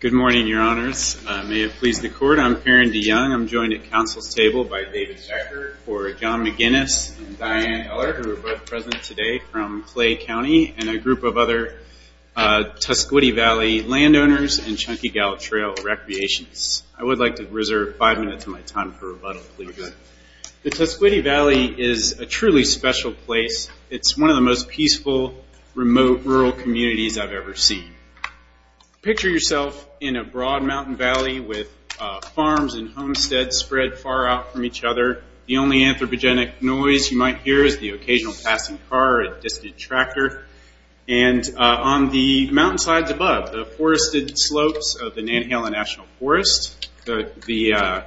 Good morning, Your Honors. May it please the Court, I'm Aaron DeYoung. I'm joined at counsel's table by David Zecker for John McGuinness and Diane Eller, who are both present today from Clay County, and a group of other Tuscogee Valley landowners and Chunky Gallop Trail Recreations. I would like to reserve five minutes of my time for rebuttal, please. The Tuscogee Valley is a truly special place. It's one of the most peaceful, remote, rural communities I've ever seen. Picture yourself in a broad mountain valley with farms and homesteads spread far out from each other. The only anthropogenic noise you might hear is the occasional passing car or a distant tractor. And on the mountainsides above, the forested slopes of the Nantahala National Forest, the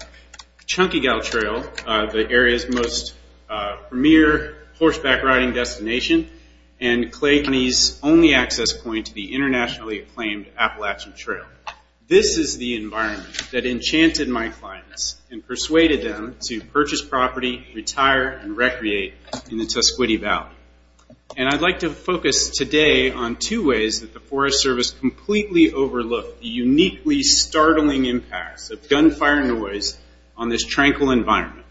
Chunky Gallop Trail, the area's most premier horseback riding destination, and Clay County's only access point to the internationally acclaimed Appalachian Trail. This is the environment that enchanted my in the Tuscogee Valley. And I'd like to focus today on two ways that the Forest Service completely overlooked the uniquely startling impacts of gunfire noise on this tranquil environment.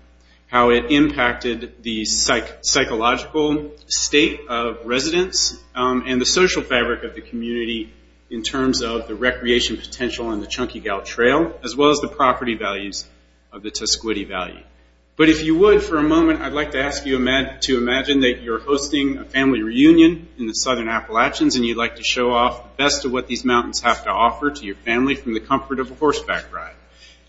How it impacted the psychological state of residents and the social fabric of the community in terms of the recreation potential in the Chunky Gallop Trail, as well as the environmental impact of gunfire. For a moment, I'd like to ask you to imagine that you're hosting a family reunion in the southern Appalachians, and you'd like to show off the best of what these mountains have to offer to your family from the comfort of a horseback ride.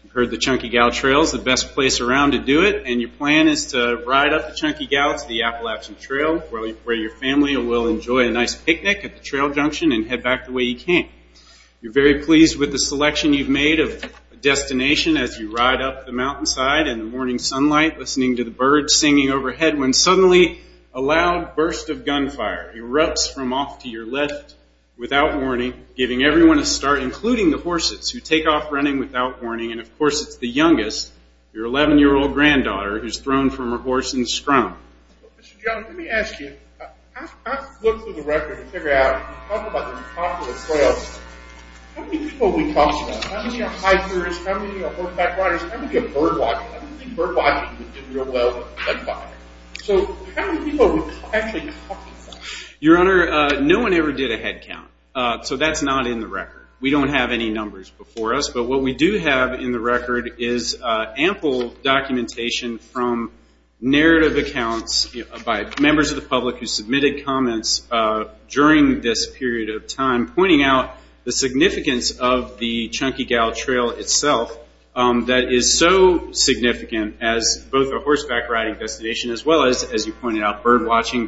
You've heard the Chunky Gallop Trail is the best place around to do it, and your plan is to ride up the Chunky Gallop to the Appalachian Trail, where your family will enjoy a nice picnic at the trail junction and head back the way you came. You're very pleased with the selection you've made of a destination as you ride up the mountainside in the morning sunlight, listening to the birds singing overhead, when suddenly, a loud burst of gunfire erupts from off to your left without warning, giving everyone a start, including the horses, who take off running without warning. And of course, it's the youngest, your 11-year-old granddaughter, who's thrown from her horse in the scrum. Mr. John, let me ask you, I've looked through the record to figure out, when you talk about how many are hikers, how many are horseback riders, how many are birdwatchers? I don't think birdwatching would do real well with gunfire. So, how many people would actually count that? Your Honor, no one ever did a head count, so that's not in the record. We don't have any numbers before us, but what we do have in the record is ample documentation from narrative accounts by members of the public who submitted comments during this period of time, pointing out the significance of the Chunky Gout Trail itself, that is so significant as both a horseback riding destination, as well as, as you pointed out, birdwatching.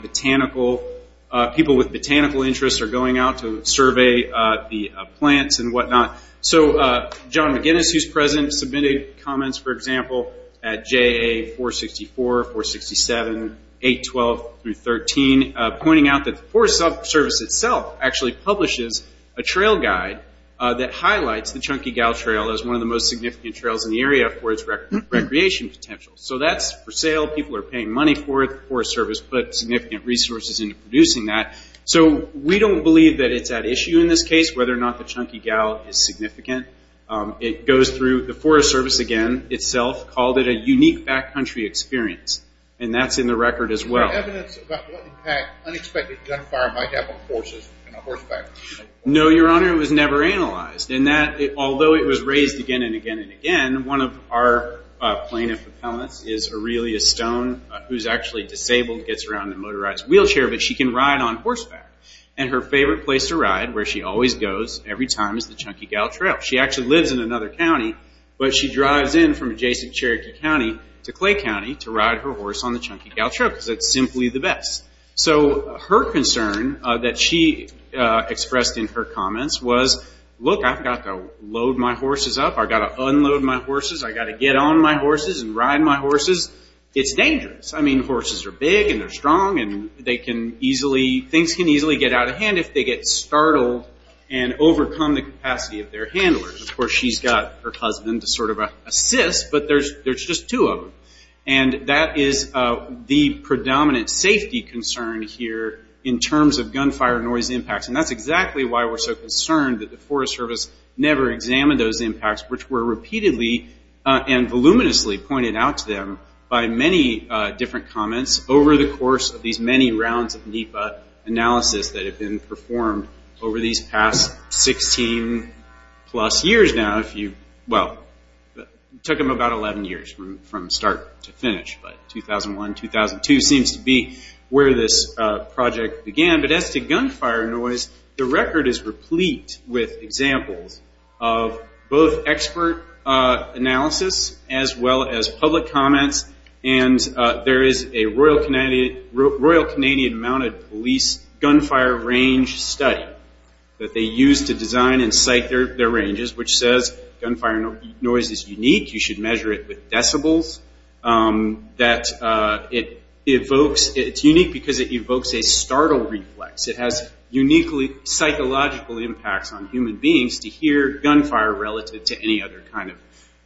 People with botanical interests are going out to survey the plants and whatnot. So, John McGinnis, who's present, submitted comments, for example, at JA 464, 467, 812 through 13, pointing out that the Forest Service itself actually publishes a trail guide that highlights the Chunky Gout Trail as one of the most significant trails in the area for its recreation potential. So, that's for sale, people are paying money for it, the Forest Service put significant resources into producing that. So, we don't believe that it's at issue in this case, whether or not the Chunky Gout is significant. It goes through, the Forest Service, again, itself, called it a unique backcountry experience, and that's in the record as well. Is there evidence about what impact unexpected gunfire might have on horses and a horseback? No, Your Honor, it was never analyzed. In that, although it was raised again and again and again, one of our plaintiff appellants is Aurelia Stone, who's actually disabled, gets around in a motorized wheelchair, but she can ride on horseback. And her favorite place to ride, where she always goes, every time, is the Chunky Gout Trail. She actually lives in another county, but she drives in from adjacent Cherokee County to Clay County to ride her horse on the Chunky Gout Trail, because it's simply the best. So, her concern that she expressed in her comments was, look, I've got to load my horses up, I've got to unload my horses, I've got to get on my horses and ride my horses. It's dangerous. I mean, horses are big and they're strong and things can easily get out of hand if they get startled and overcome the capacity of their handlers. Of course, she's got her two of them. And that is the predominant safety concern here, in terms of gunfire noise impacts. And that's exactly why we're so concerned that the Forest Service never examined those impacts, which were repeatedly and voluminously pointed out to them by many different comments over the course of these many rounds of NEPA analysis that have been performed over these past 16 plus years now. Well, it took them about 11 years from start to finish, but 2001, 2002 seems to be where this project began. But as to gunfire noise, the record is replete with examples of both expert analysis as well as public comments. And there is a Royal Canadian Mounted Police gunfire range study that they used to design and cite their ranges, which says gunfire noise is unique. You should measure it with decibels. It's unique because it evokes a startle reflex. It has uniquely psychological impacts on human beings to hear gunfire relative to any other kind of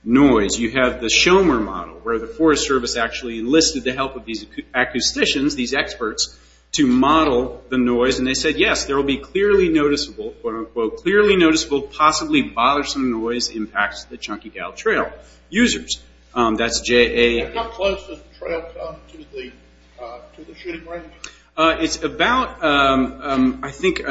noise. You have the Schomer model, where the Forest Service actually enlisted the help of these acousticians, these experts, to model the noise. And they said, yes, there will be clearly noticeable, quote, unquote, clearly noticeable, possibly bothersome noise impacts the Chunky Gout Trail users. That's J.A. How close does the trail come to the shooting range? It's about, I think,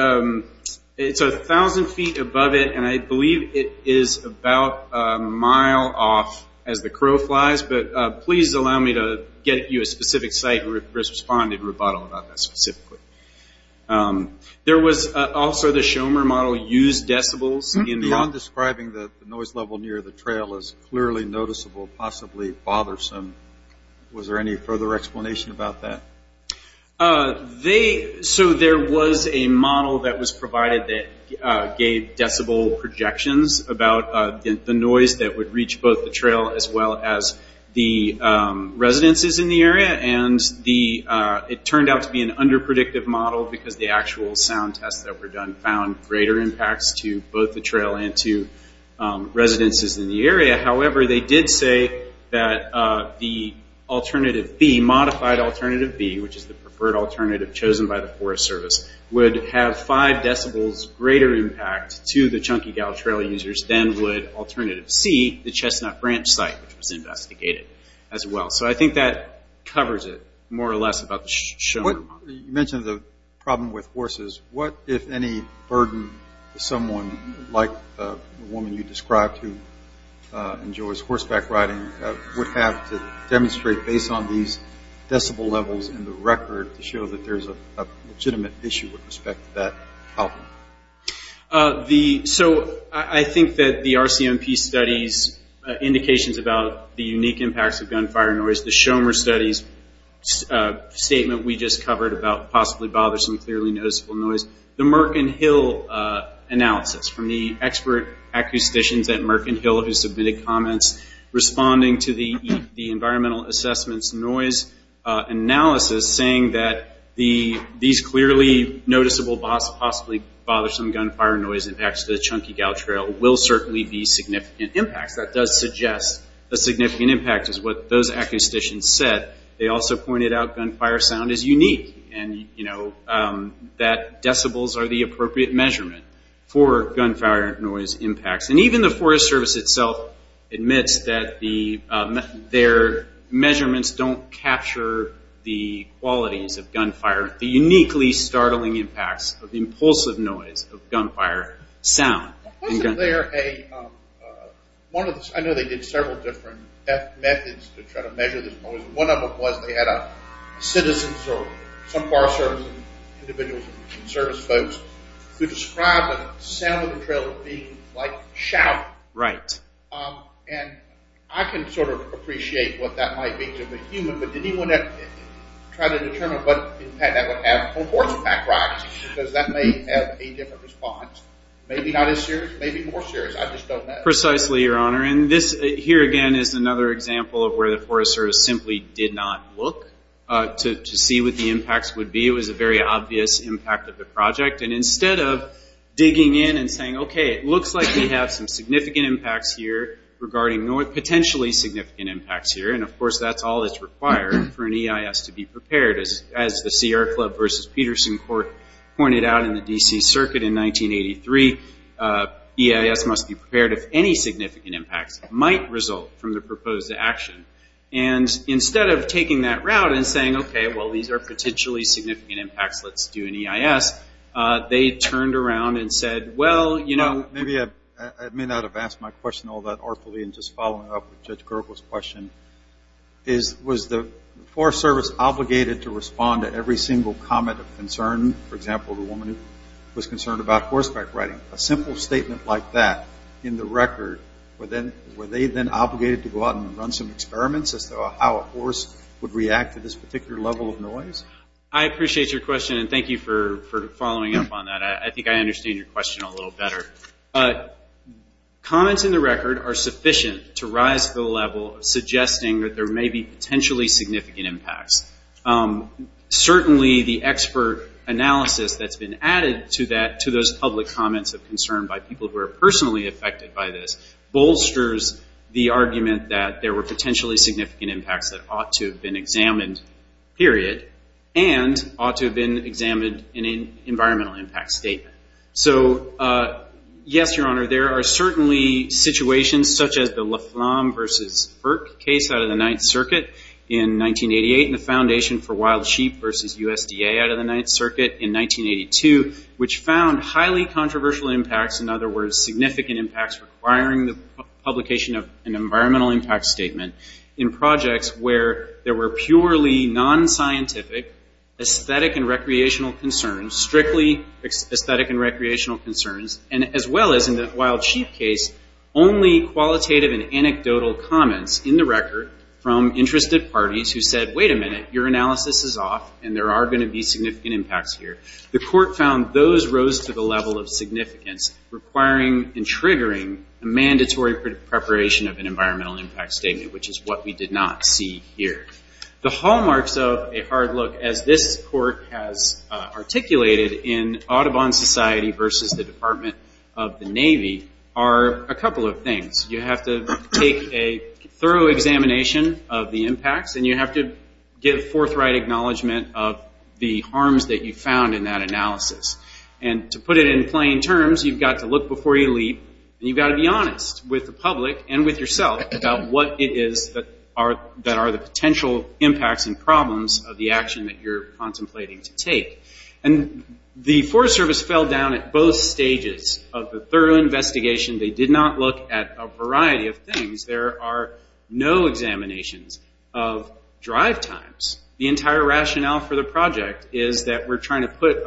it's 1,000 feet above it, and I believe it is about a mile off as the crow flies. But please allow me to get you a specific site where it responded rebuttal about that specifically. There was also the Schomer model used decibels in the Ron describing the noise level near the trail as clearly noticeable, possibly bothersome. Was there any further explanation about that? There was a model that was provided that gave decibel projections about the noise that would reach both the trail as well as the residences in the area. It turned out to be an under predictive model because the actual sound tests that were done found greater impacts to both the trail and to residences in the area. However, they did say that the alternative B, modified alternative B, which is the preferred alternative chosen by the Forest Service, would have five decibels greater impact to the Chunky Gout Trail users than would alternative C, the Chestnut Branch site, which was investigated as well. So I think that covers it more or less about the Schomer model. You mentioned the problem with horses. What, if any, burden does someone like the woman you described who enjoys horseback riding would have to demonstrate based on these decibel levels in the record to show that there's a legitimate issue with respect to that problem? So I think that the RCMP studies indications about the unique impacts of gunfire noise, the Merkin Hill analysis from the expert acousticians at Merkin Hill who submitted comments responding to the environmental assessments noise analysis saying that these clearly noticeable, possibly bothersome gunfire noise impacts to the Chunky Gout Trail will certainly be significant impacts. That does suggest a significant impact is what those acousticians said. They also pointed out gunfire sound is unique and, you know, that decibels are the appropriate measurement for gunfire noise impacts. And even the Forest Service itself admits that their measurements don't capture the qualities of gunfire, the uniquely startling impacts of the impulsive noise of gunfire sound. Wasn't there a, one of the, I know they did several different methods to try to measure this noise. One of them was they had a citizen or some Forest Service individuals and service folks who described the sound of the trail being like shouting. Right. And I can sort of appreciate what that might be to the human, but did anyone try to determine what impact that would have on horseback riding? Because that may have a different response. Maybe not as serious, maybe more serious. I just don't know. Precisely, Your Honor. And this here again is another example of where the Forest Service simply did not look to see what the impacts would be. It was a very obvious impact of the project. And instead of digging in and saying, okay, it looks like we have some significant impacts here regarding north, potentially significant impacts here, and of course that's all that's required for an EIS to be prepared. As the Sierra Club v. Peterson Court pointed out in the D.C. Circuit in 1983, EIS must be prepared if any significant impacts might result from the proposed action. And instead of taking that route and saying, okay, well, these are potentially significant impacts, let's do an EIS, they turned around and said, well, you know. Maybe I may not have asked my question all that right. I'm going to ask Mr. Kerkel's question. Was the Forest Service obligated to respond to every single comment of concern? For example, the woman who was concerned about horseback riding. A simple statement like that in the record, were they then obligated to go out and run some experiments as to how a horse would react to this particular level of noise? I appreciate your question, and thank you for following up on that. I think I understand your question a little better. Comments in the record are sufficient to rise to the level of suggesting that there may be potentially significant impacts. Certainly the expert analysis that's been added to those public comments of concern by people who are personally affected by this bolsters the argument that there were potentially significant impacts that ought to have been examined, period, and ought to have been examined. Yes, Your Honor, there are certainly situations such as the La Flamme versus FERC case out of the Ninth Circuit in 1988, and the Foundation for Wild Sheep versus USDA out of the Ninth Circuit in 1982, which found highly controversial impacts, in other words, significant impacts requiring the publication of an environmental impact statement in projects where there were purely non-scientific aesthetic and recreational concerns, strictly aesthetic and recreational concerns, and as well as in the Wild Sheep case, only qualitative and anecdotal comments in the record from interested parties who said, wait a minute, your analysis is off, and there are going to be significant impacts here. The court found those rose to the level of significance, requiring and triggering a mandatory preparation of an environmental impact statement. The other issues, as this court has articulated in Audubon Society versus the Department of the Navy, are a couple of things. You have to take a thorough examination of the impacts, and you have to give forthright acknowledgment of the harms that you found in that analysis. And to put it in plain terms, you've got to look before you leap, and you've got to be honest with the public and with what you're contemplating to take. And the Forest Service fell down at both stages of the thorough investigation. They did not look at a variety of things. There are no examinations of drive times. The entire rationale for the project is that we're trying to put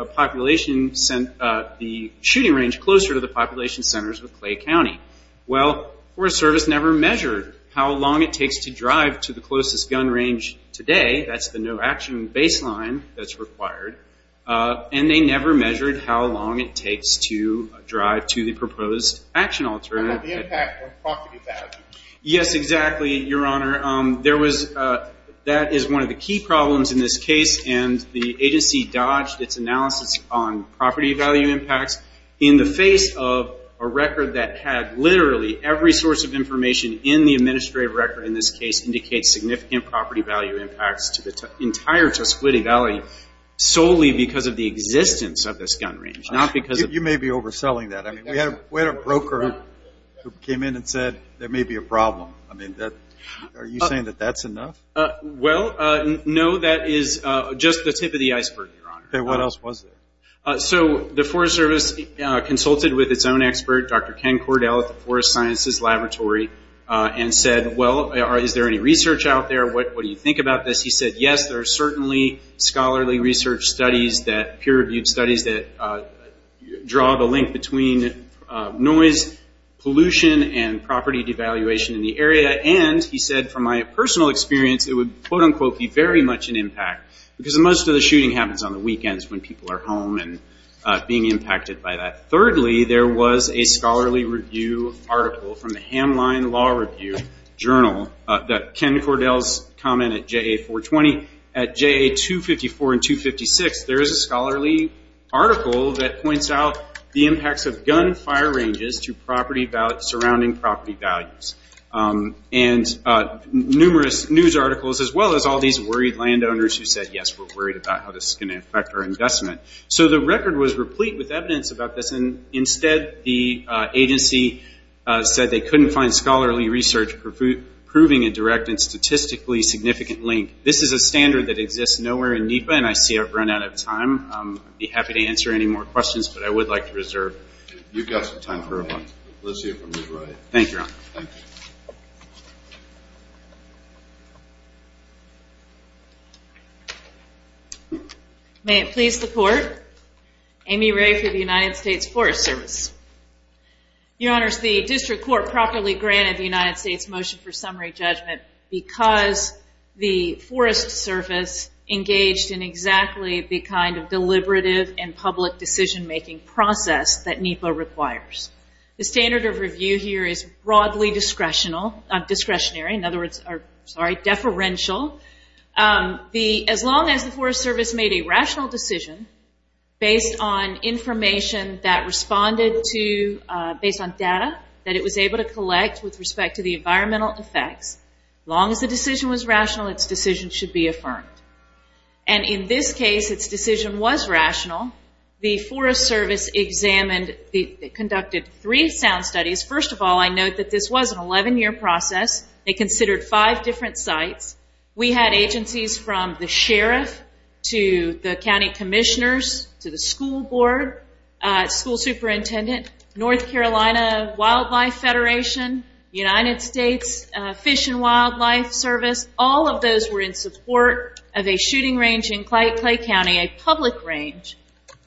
the shooting range closer to the population centers with Clay County. Well, Forest Service never measured how long it takes to drive to the closest gun range today. That's the no-action baseline that's required. And they never measured how long it takes to drive to the proposed action alternative. The impact on property value. Yes, exactly, Your Honor. That is one of the key problems in this case, and the agency dodged its analysis on property value impacts in the face of a record that had literally every source of information in the property value impacts to the entire Tuscaloosa Valley solely because of the existence of this gun range. You may be overselling that. We had a broker who came in and said there may be a problem. Are you saying that that's enough? No, that is just the tip of the iceberg, Your Honor. What else was there? The Forest Service consulted with its own expert, Dr. Ken Cordell at the Forest Sciences Laboratory, and said, well, is there any research out there? What do you think about this? He said, yes, there are certainly scholarly research studies, peer-reviewed studies that draw the link between noise, pollution, and property devaluation in the area. And he said, from my personal experience, it would, quote-unquote, be very much an impact because most of the property is in the home and being impacted by that. Thirdly, there was a scholarly review article from the Hamline Law Review Journal that Ken Cordell's comment at JA-420. At JA-254 and 256, there is a scholarly article that points out the impacts of gun fire ranges to surrounding property values. And numerous news articles, as well as all these worried landowners who said, yes, we're worried about how this is going to affect our investment. So the record was replete with evidence about this. Instead, the agency said they couldn't find scholarly research proving a direct and statistically significant link. This is a standard that exists nowhere in NEPA, and I see I've run out of time. I'd be happy to answer any more questions, but I would like to reserve. You've got some time for one. Thank you, Your Honor. May it please the Court. Amy Ray for the United States Forest Service. Your Honors, the District Court properly granted the United States motion for summary judgment because the Forest Service made a decision that NEPA requires. The standard of review here is broadly discretionary. In other words, deferential. As long as the Forest Service made a rational decision based on information that responded to, based on data that it was able to collect with respect to the environmental effects, as long as the decision was rational, its decision should be affirmed. And in this case, its decision was rational. The Forest Service examined, conducted three sound studies. First of all, I note that this was an 11-year process. They considered five different sites. We had agencies from the sheriff to the county commissioners to the school board, school superintendent, North Carolina Wildlife Federation, United States Fish and Wildlife Service. All of those were in support of a shooting range in Clay County, a public range,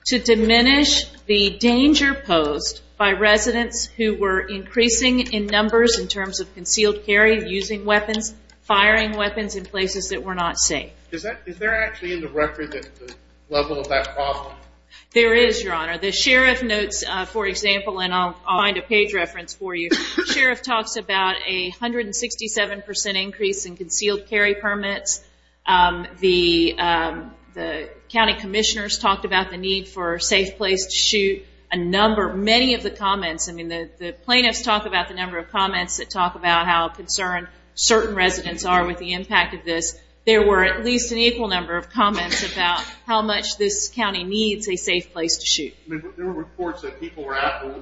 to diminish the danger posed by residents who were increasing in numbers in terms of concealed carry, using weapons, firing weapons in places that were not safe. Is there actually in the record the level of that problem? There is, Your Honor. The sheriff notes, for example, and I'll find a page reference for you. The sheriff talks about a 167% increase in concealed carry permits. The county commissioners talked about the need for a safe place to shoot. Many of the comments, I mean, the plaintiffs talk about the number of comments that talk about how concerned certain residents are with the impact of this. There were at least an equal number of comments about how much this county needs a safe place to shoot. There were reports that people were out in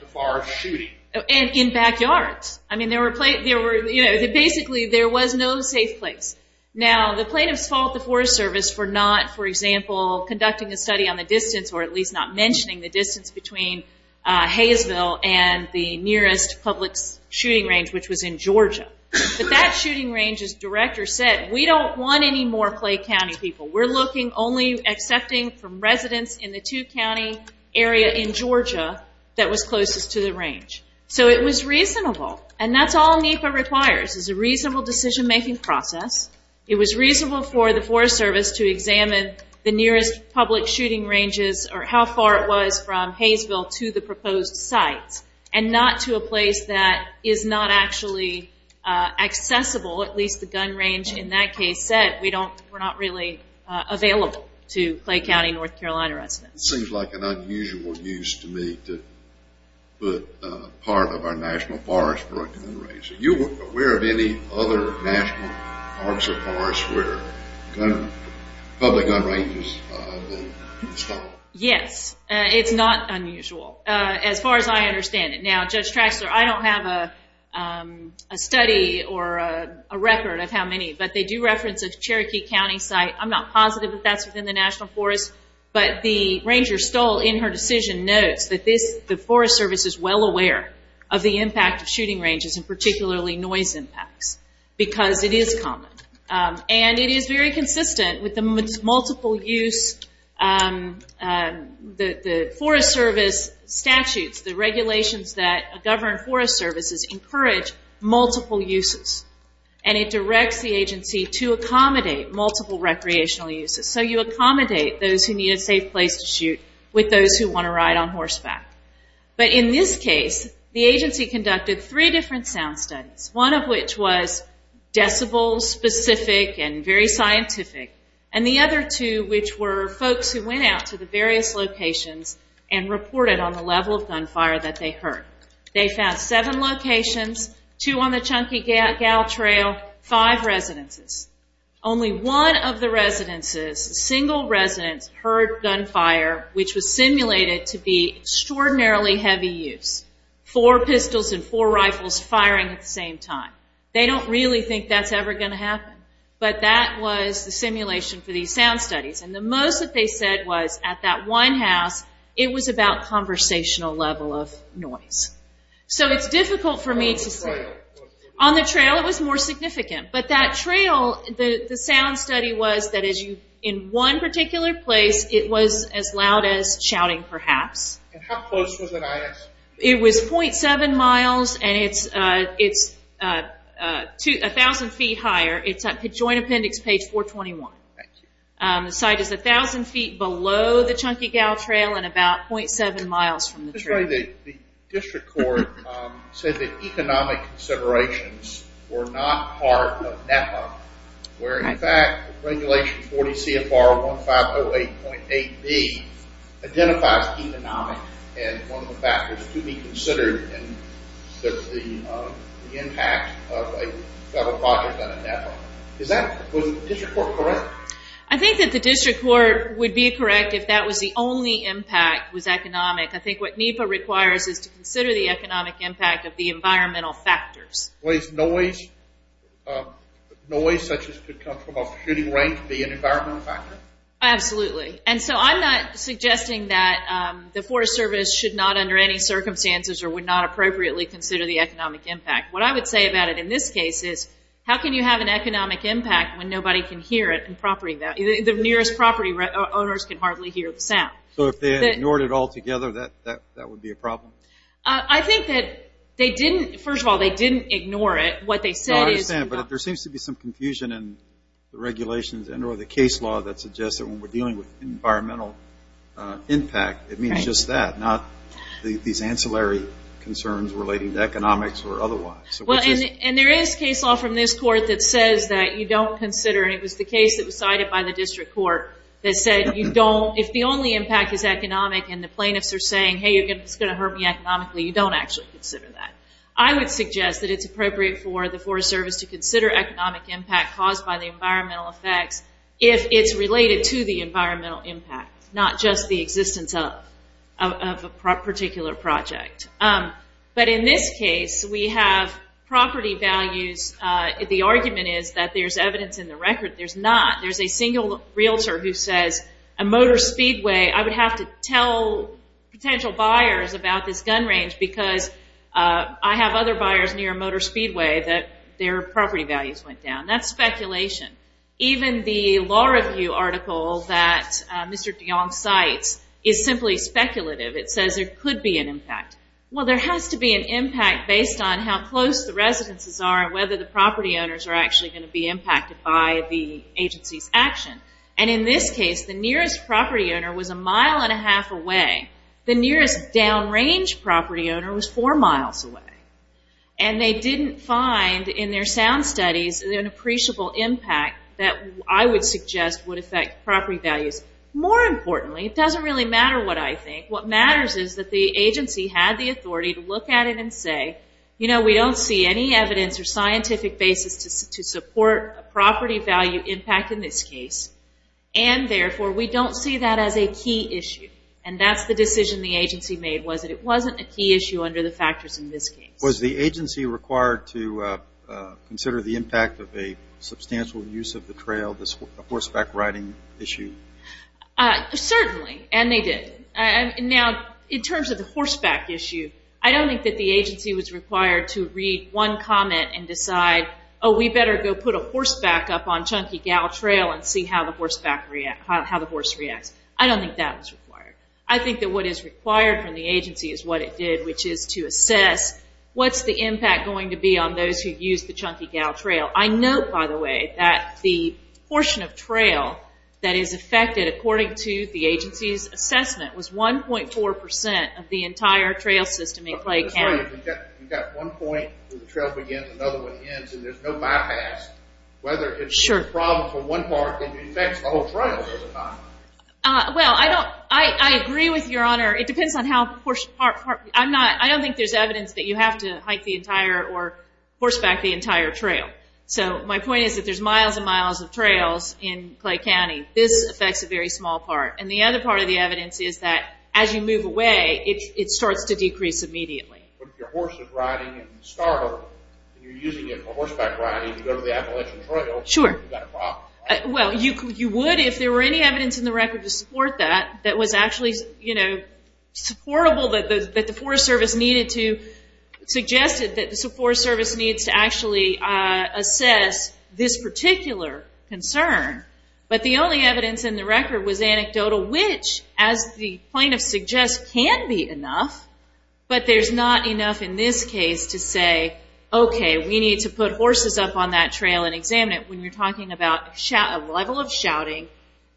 the forest shooting. In backyards. Basically, there was no safe place. Now, the plaintiffs fault the Forest Service for not, for example, conducting a study on the distance or at least not mentioning the distance between Hayesville and the nearest public shooting range, which was in Georgia. But that shooting range's director said, we don't want any more Clay County people. We're looking only accepting from residents in the two-county area in Georgia that was closest to the range. So it was reasonable. And that's all NEPA requires, is a reasonable decision-making process. It was reasonable for the Forest Service to examine the nearest public shooting ranges or how far it was from Hayesville to the proposed sites and not to a place that is not actually accessible, at least the gun range in that case said we're not really available to Clay County North Carolina residents. It seems like an unusual use to me to put part of our national forest for a gun range. Are you aware of any other national parks or forests where public gun ranges will be installed? Yes. It's not unusual as far as I understand it. Now, Judge Traxler, I don't have a study or a record of how many, but they do reference a Cherokee County site. I'm not positive that that's within the national forest, but the ranger Stoll in her decision notes that the Forest Service is well aware of the impact of shooting ranges and particularly noise impacts because it is common. And it is very consistent with the multiple-use, the Forest Service statutes, the regulations that govern Forest Services encourage multiple uses and it directs the agency to accommodate multiple recreational uses. So you accommodate those who need a safe place to shoot with those who want to ride on horseback. But in this case the agency conducted three different sound studies, one of which was decibel specific and very scientific and the other two which were folks who went out to the various locations and reported on the level of gunfire that they heard. They found seven locations, two on the Chunky Gal Trail, five residences. Only one of the residences, a single residence, heard gunfire which was simulated to be extraordinarily heavy use. Four pistols and four rifles firing at the same time. They don't really think that's ever going to happen. But that was the simulation for these sound studies. And the most that they said was at that one house it was about conversational level of noise. So it's difficult for me to say. On the trail it was more significant. But that trail, the sound study was that in one particular place it was as loud as shouting perhaps. And how close was it at? It was .7 miles and it's a thousand feet higher. It's at joint appendix page 421. The site is a thousand feet below the Chunky Gal Trail and about .7 miles from the trail. The district court said that economic considerations were not part of NEPA where in fact regulation 40 CFR 1508.8B identifies economic and one of the factors to be considered in the impact of a federal project on a NEPA. Was the district court correct? I think that the district court would be correct if that was the only impact was economic. I think what NEPA requires is to consider the economic impact of the environmental factors. Was noise, noise such as could come from a shooting range be an environmental factor? Absolutely. And so I'm not suggesting that the Forest Service should not under any circumstances or would not appropriately consider the economic impact. What I would say about it in this case is how can you have an economic impact when nobody can hear it? The nearest property owners can hardly hear the sound. So if they ignored it all together, that would be a problem? First of all, they didn't ignore it. What they said is... There seems to be some confusion in the regulations and or the case law that suggests that when we're dealing with environmental impact, it means just that, not these ancillary concerns relating to economics or otherwise. Well, and there is case law from this court that says that you don't consider, and it was the case that was cited by the district court that said you don't, if the only impact is economic and the plaintiffs are saying, hey, it's going to hurt me economically, you don't actually consider that. I would suggest that it's appropriate for the Forest Service to consider economic impact caused by the environmental effects if it's related to the environmental impact, not just the existence of a particular project. But in this case, we have property values. The argument is that there's evidence in the record. There's not. There's a single realtor who says a motor speedway, I would have to tell potential buyers about this gun range because I have other buyers near a motor speedway that their property values went down. That's speculation. Even the law review article that Mr. DeJong cites is simply speculative. It says there could be an impact. Well, there has to be an impact based on how close the residences are and whether the property owners are actually going to be impacted by the agency's action. And in this case, the nearest property owner was a mile and a half away. The nearest downrange property owner was I would suggest would affect property values. More importantly, it doesn't really matter what I think. What matters is that the agency had the authority to look at it and say, you know, we don't see any evidence or scientific basis to support a property value impact in this case, and therefore, we don't see that as a key issue. And that's the decision the agency made, was that it wasn't a key issue under the factors in this case. Was the agency required to consider the impact of a substantial use of the trail, the horseback riding issue? Certainly. And they did. Now, in terms of the horseback issue, I don't think that the agency was required to read one comment and decide, oh, we better go put a horseback up on Chunky Gow Trail and see how the horse reacts. I don't think that was required. I think that what is required from the agency is what it did, which is to assess what's the impact going to be on those who use the Chunky Gow Trail. I note, by the way, that the portion of trail that is affected, according to the agency's assessment, was 1.4 percent of the entire trail system in Clay County. That's right. You've got one point where the trail begins, another one ends, and there's no bypass. Whether it's a problem for one part, it affects the whole trail, does it not? Well, I don't – I agree with Your Honor. It depends on how portion – I'm not – I don't think there's evidence that you have to hike the entire or horseback the entire trail. So my point is that there's miles and miles of trails in Clay County. This affects a very small part. And the other part of the evidence is that as you move away, it starts to decrease immediately. But if your horse is riding and you startle, and you're using it for horseback riding, you go to the Appalachian Trail, you've got a problem. Well, you would if there were any evidence in the record to support that that was actually, you know, supportable that the Forest Service needed to – suggested that the Forest Service needs to actually assess this particular concern. But the only evidence in the record was anecdotal, which, as the plaintiff suggests, can be enough, but there's not enough in this case to say, okay, we need to put horses up on that trail and examine it when you're talking about a level of shouting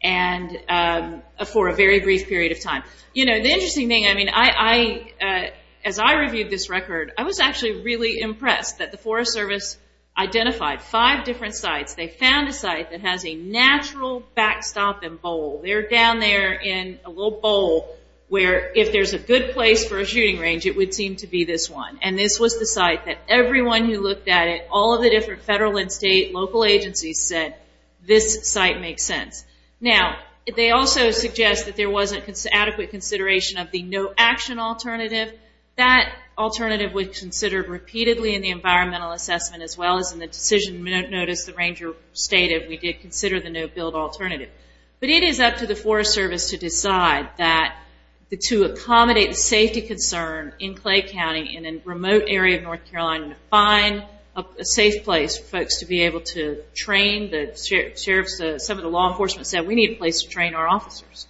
and – for a very brief period of time. You know, the interesting thing, I mean, I – as I reviewed this record, I was actually really impressed that the Forest Service identified five different sites. They found a site that has a natural backstop and bowl. They're down there in a little bowl where if there's a good place for a shooting range, it would seem to be this one. And this was the site that everyone who looked at it, all of the different federal and state local agencies said, this site makes sense. Now, they also suggest that there wasn't adequate consideration of the no-action alternative. That alternative was considered repeatedly in the environmental assessment as well as in the decision notice the ranger stated we did consider the no-build alternative. But it is up to the Forest Service to decide that – to accommodate the safety concern in Clay County and in a remote area of North Carolina to find a safe place for folks to be able to train the sheriff's – some of the law enforcement said, we need a place to train our officers.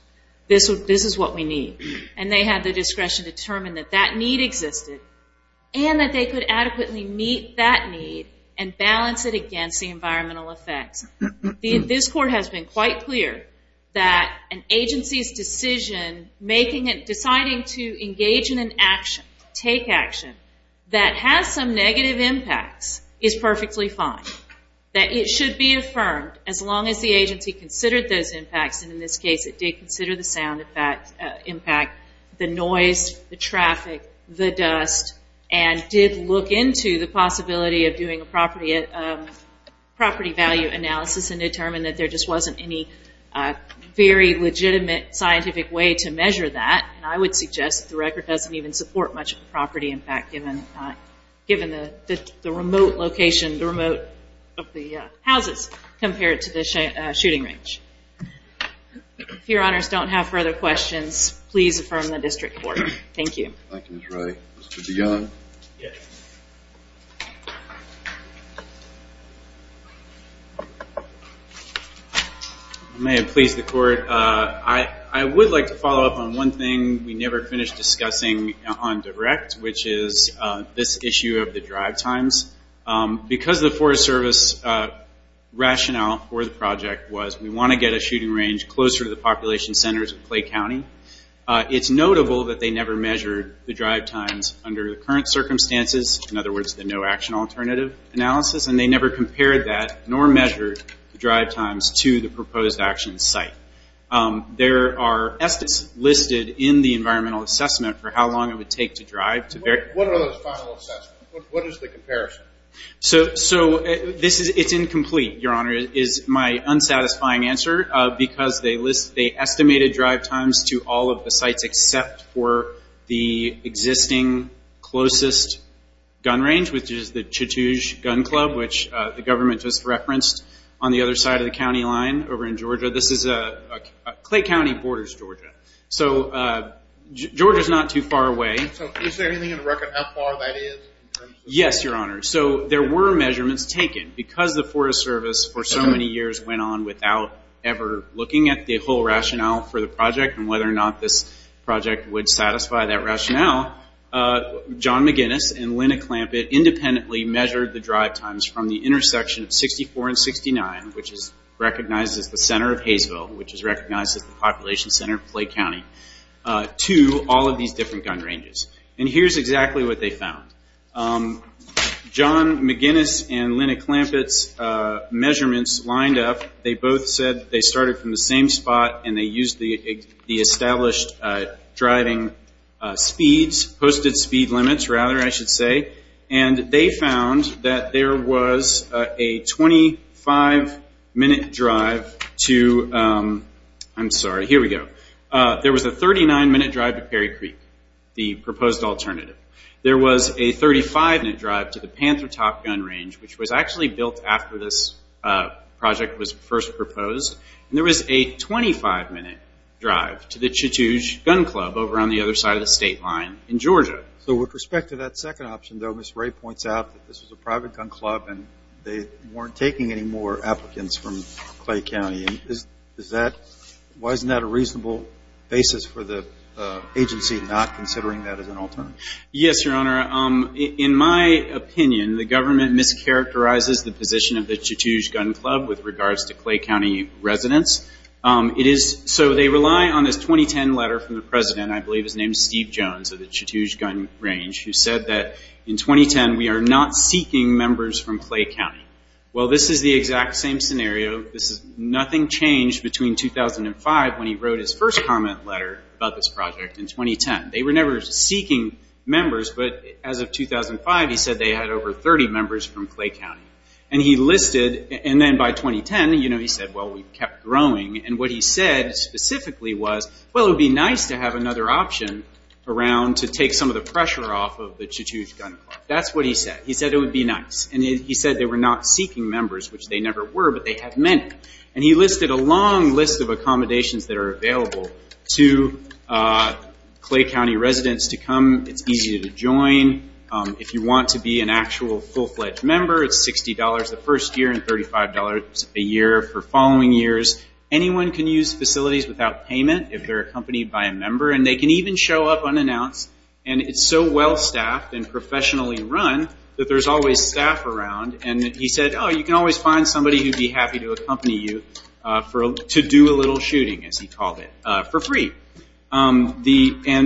This is what we need. And they had the discretion to determine that that need existed and that they could adequately meet that need and balance it against the environmental effects. This court has been quite clear that an agency's decision making it – deciding to engage in an action, take action, that has some negative impacts is perfectly fine. That it should be affirmed as long as the agency considered those impacts, and in this case it did consider the sound impact, the noise, the traffic, the dust, and did look into the possibility of doing a property value analysis and determined that there just wasn't any very legitimate scientific way to measure that. And I would suggest the record doesn't even support much of a property impact given the remote location, the remote of the houses compared to the shooting range. If your honors don't have further questions, please affirm the district court. Thank you. Thank you Ms. Ray. Mr. DeYoung. I may have pleased the court. I would like to follow up on one thing we never finished discussing on direct, which is this issue of the shooting range closer to the population centers of Clay County. It's notable that they never measured the drive times under the current circumstances, in other words the no action alternative analysis, and they never compared that nor measured the drive times to the proposed action site. There are estimates listed in the environmental assessment for how long it would take to drive to – What are those final assessments? What is the comparison? So it's incomplete, your honor, is my unsatisfying answer because they estimated drive times to all of the sites except for the existing closest gun range, which is the Chattoosh Gun Club, which the government just referenced on the other side of the county line over in Georgia. This is – Clay County borders Georgia. So Georgia's not too far away. So is there anything in the record how far that is? Yes, your honor. So there were measurements taken. Because the Forest Service for so many years went on without ever looking at the whole rationale for the project and whether or not this project would satisfy that rationale, John McGinnis and Linda Clampett independently measured the drive times from the intersection of 64 and 69, which is recognized as the center of Hayesville, which is John McGinnis and Linda Clampett's measurements lined up. They both said they started from the same spot and they used the established driving speeds, posted speed limits rather, I should say. And they found that there was a 25-minute drive to – I'm sorry, here we go. There was a 39-minute drive to Perry Creek, the proposed alternative. There was a 35-minute drive to the Panther Top Gun Range, which was actually built after this project was first proposed. And there was a 25-minute drive to the Chattoosh Gun Club over on the other side of the state line in Georgia. So with respect to that second option, though, Ms. Ray points out that this was a private gun club and they weren't taking any more for the agency not considering that as an alternative. Yes, Your Honor. In my opinion, the government mischaracterizes the position of the Chattoosh Gun Club with regards to Clay County residents. It is – so they rely on this 2010 letter from the President, I believe his name is Steve Jones, of the Chattoosh Gun Range, who said that in 2010 we are not seeking members from Clay County. Well, this is the exact same scenario. This is – nothing changed between 2005 when he wrote his first comment letter about this project in 2010. They were never seeking members, but as of 2005, he said they had over 30 members from Clay County. And he listed – and then by 2010, he said, well, we kept growing. And what he said specifically was, well, it would be nice to have another option around to take some of the pressure off of the Chattoosh Gun Club. That's what he said. He said it would be nice. And he said they were not seeking members, which they never were, but they had many. And he listed a long list of accommodations that are available to Clay County residents to come. It's easy to join. If you want to be an actual full-fledged member, it's $60 the first year and $35 a year for following years. Anyone can use facilities without payment if they're accompanied by a member. And they can even show up unannounced. And it's so well-staffed and professionally run that there's always somebody who would be happy to accompany you to do a little shooting, as he called it, for free. And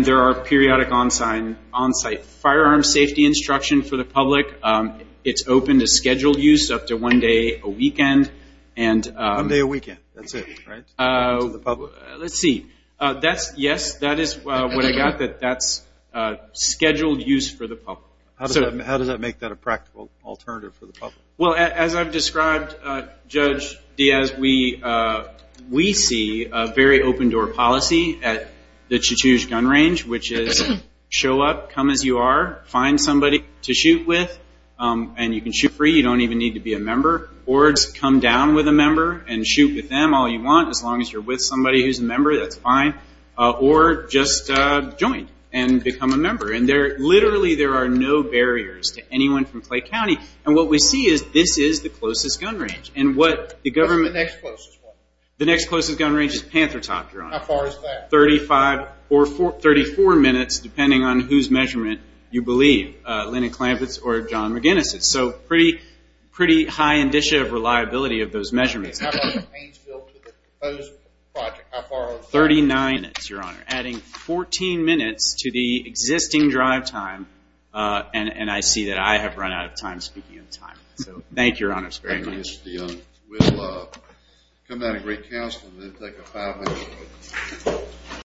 there are periodic onsite firearm safety instruction for the public. It's open to scheduled use up to one day a weekend. One day a weekend. That's it, right? Let's see. Yes, that is what I got. That's scheduled use for the public. How does that make that a practical alternative for the public? Well, as I've described, Judge Diaz, we see a very open-door policy at the Chachouj Gun Range, which is show up, come as you are, find somebody to shoot with. And you can shoot free. You don't even need to be a member. Or come down with a member and shoot with them all you want, as long as you're with somebody who's a member, that's fine. Or just join and become a member. And literally there are no barriers to this. This is the closest gun range. And what the government... What's the next closest one? The next closest gun range is Panther Top, Your Honor. How far is that? Thirty-five or thirty-four minutes, depending on whose measurement you believe. Lennon-Klampitz or John McGinnis. It's a pretty high indicia of reliability of those measurements. How far is the Haynesville to the proposed project? Thirty-nine minutes, Your Honor, adding 14 minutes to the existing drive time. And I see that I have run out of time speaking of time. So thank you, Your Honor. Thank you, Mr. Dionne. We'll come down to great counsel and then take a five-minute break.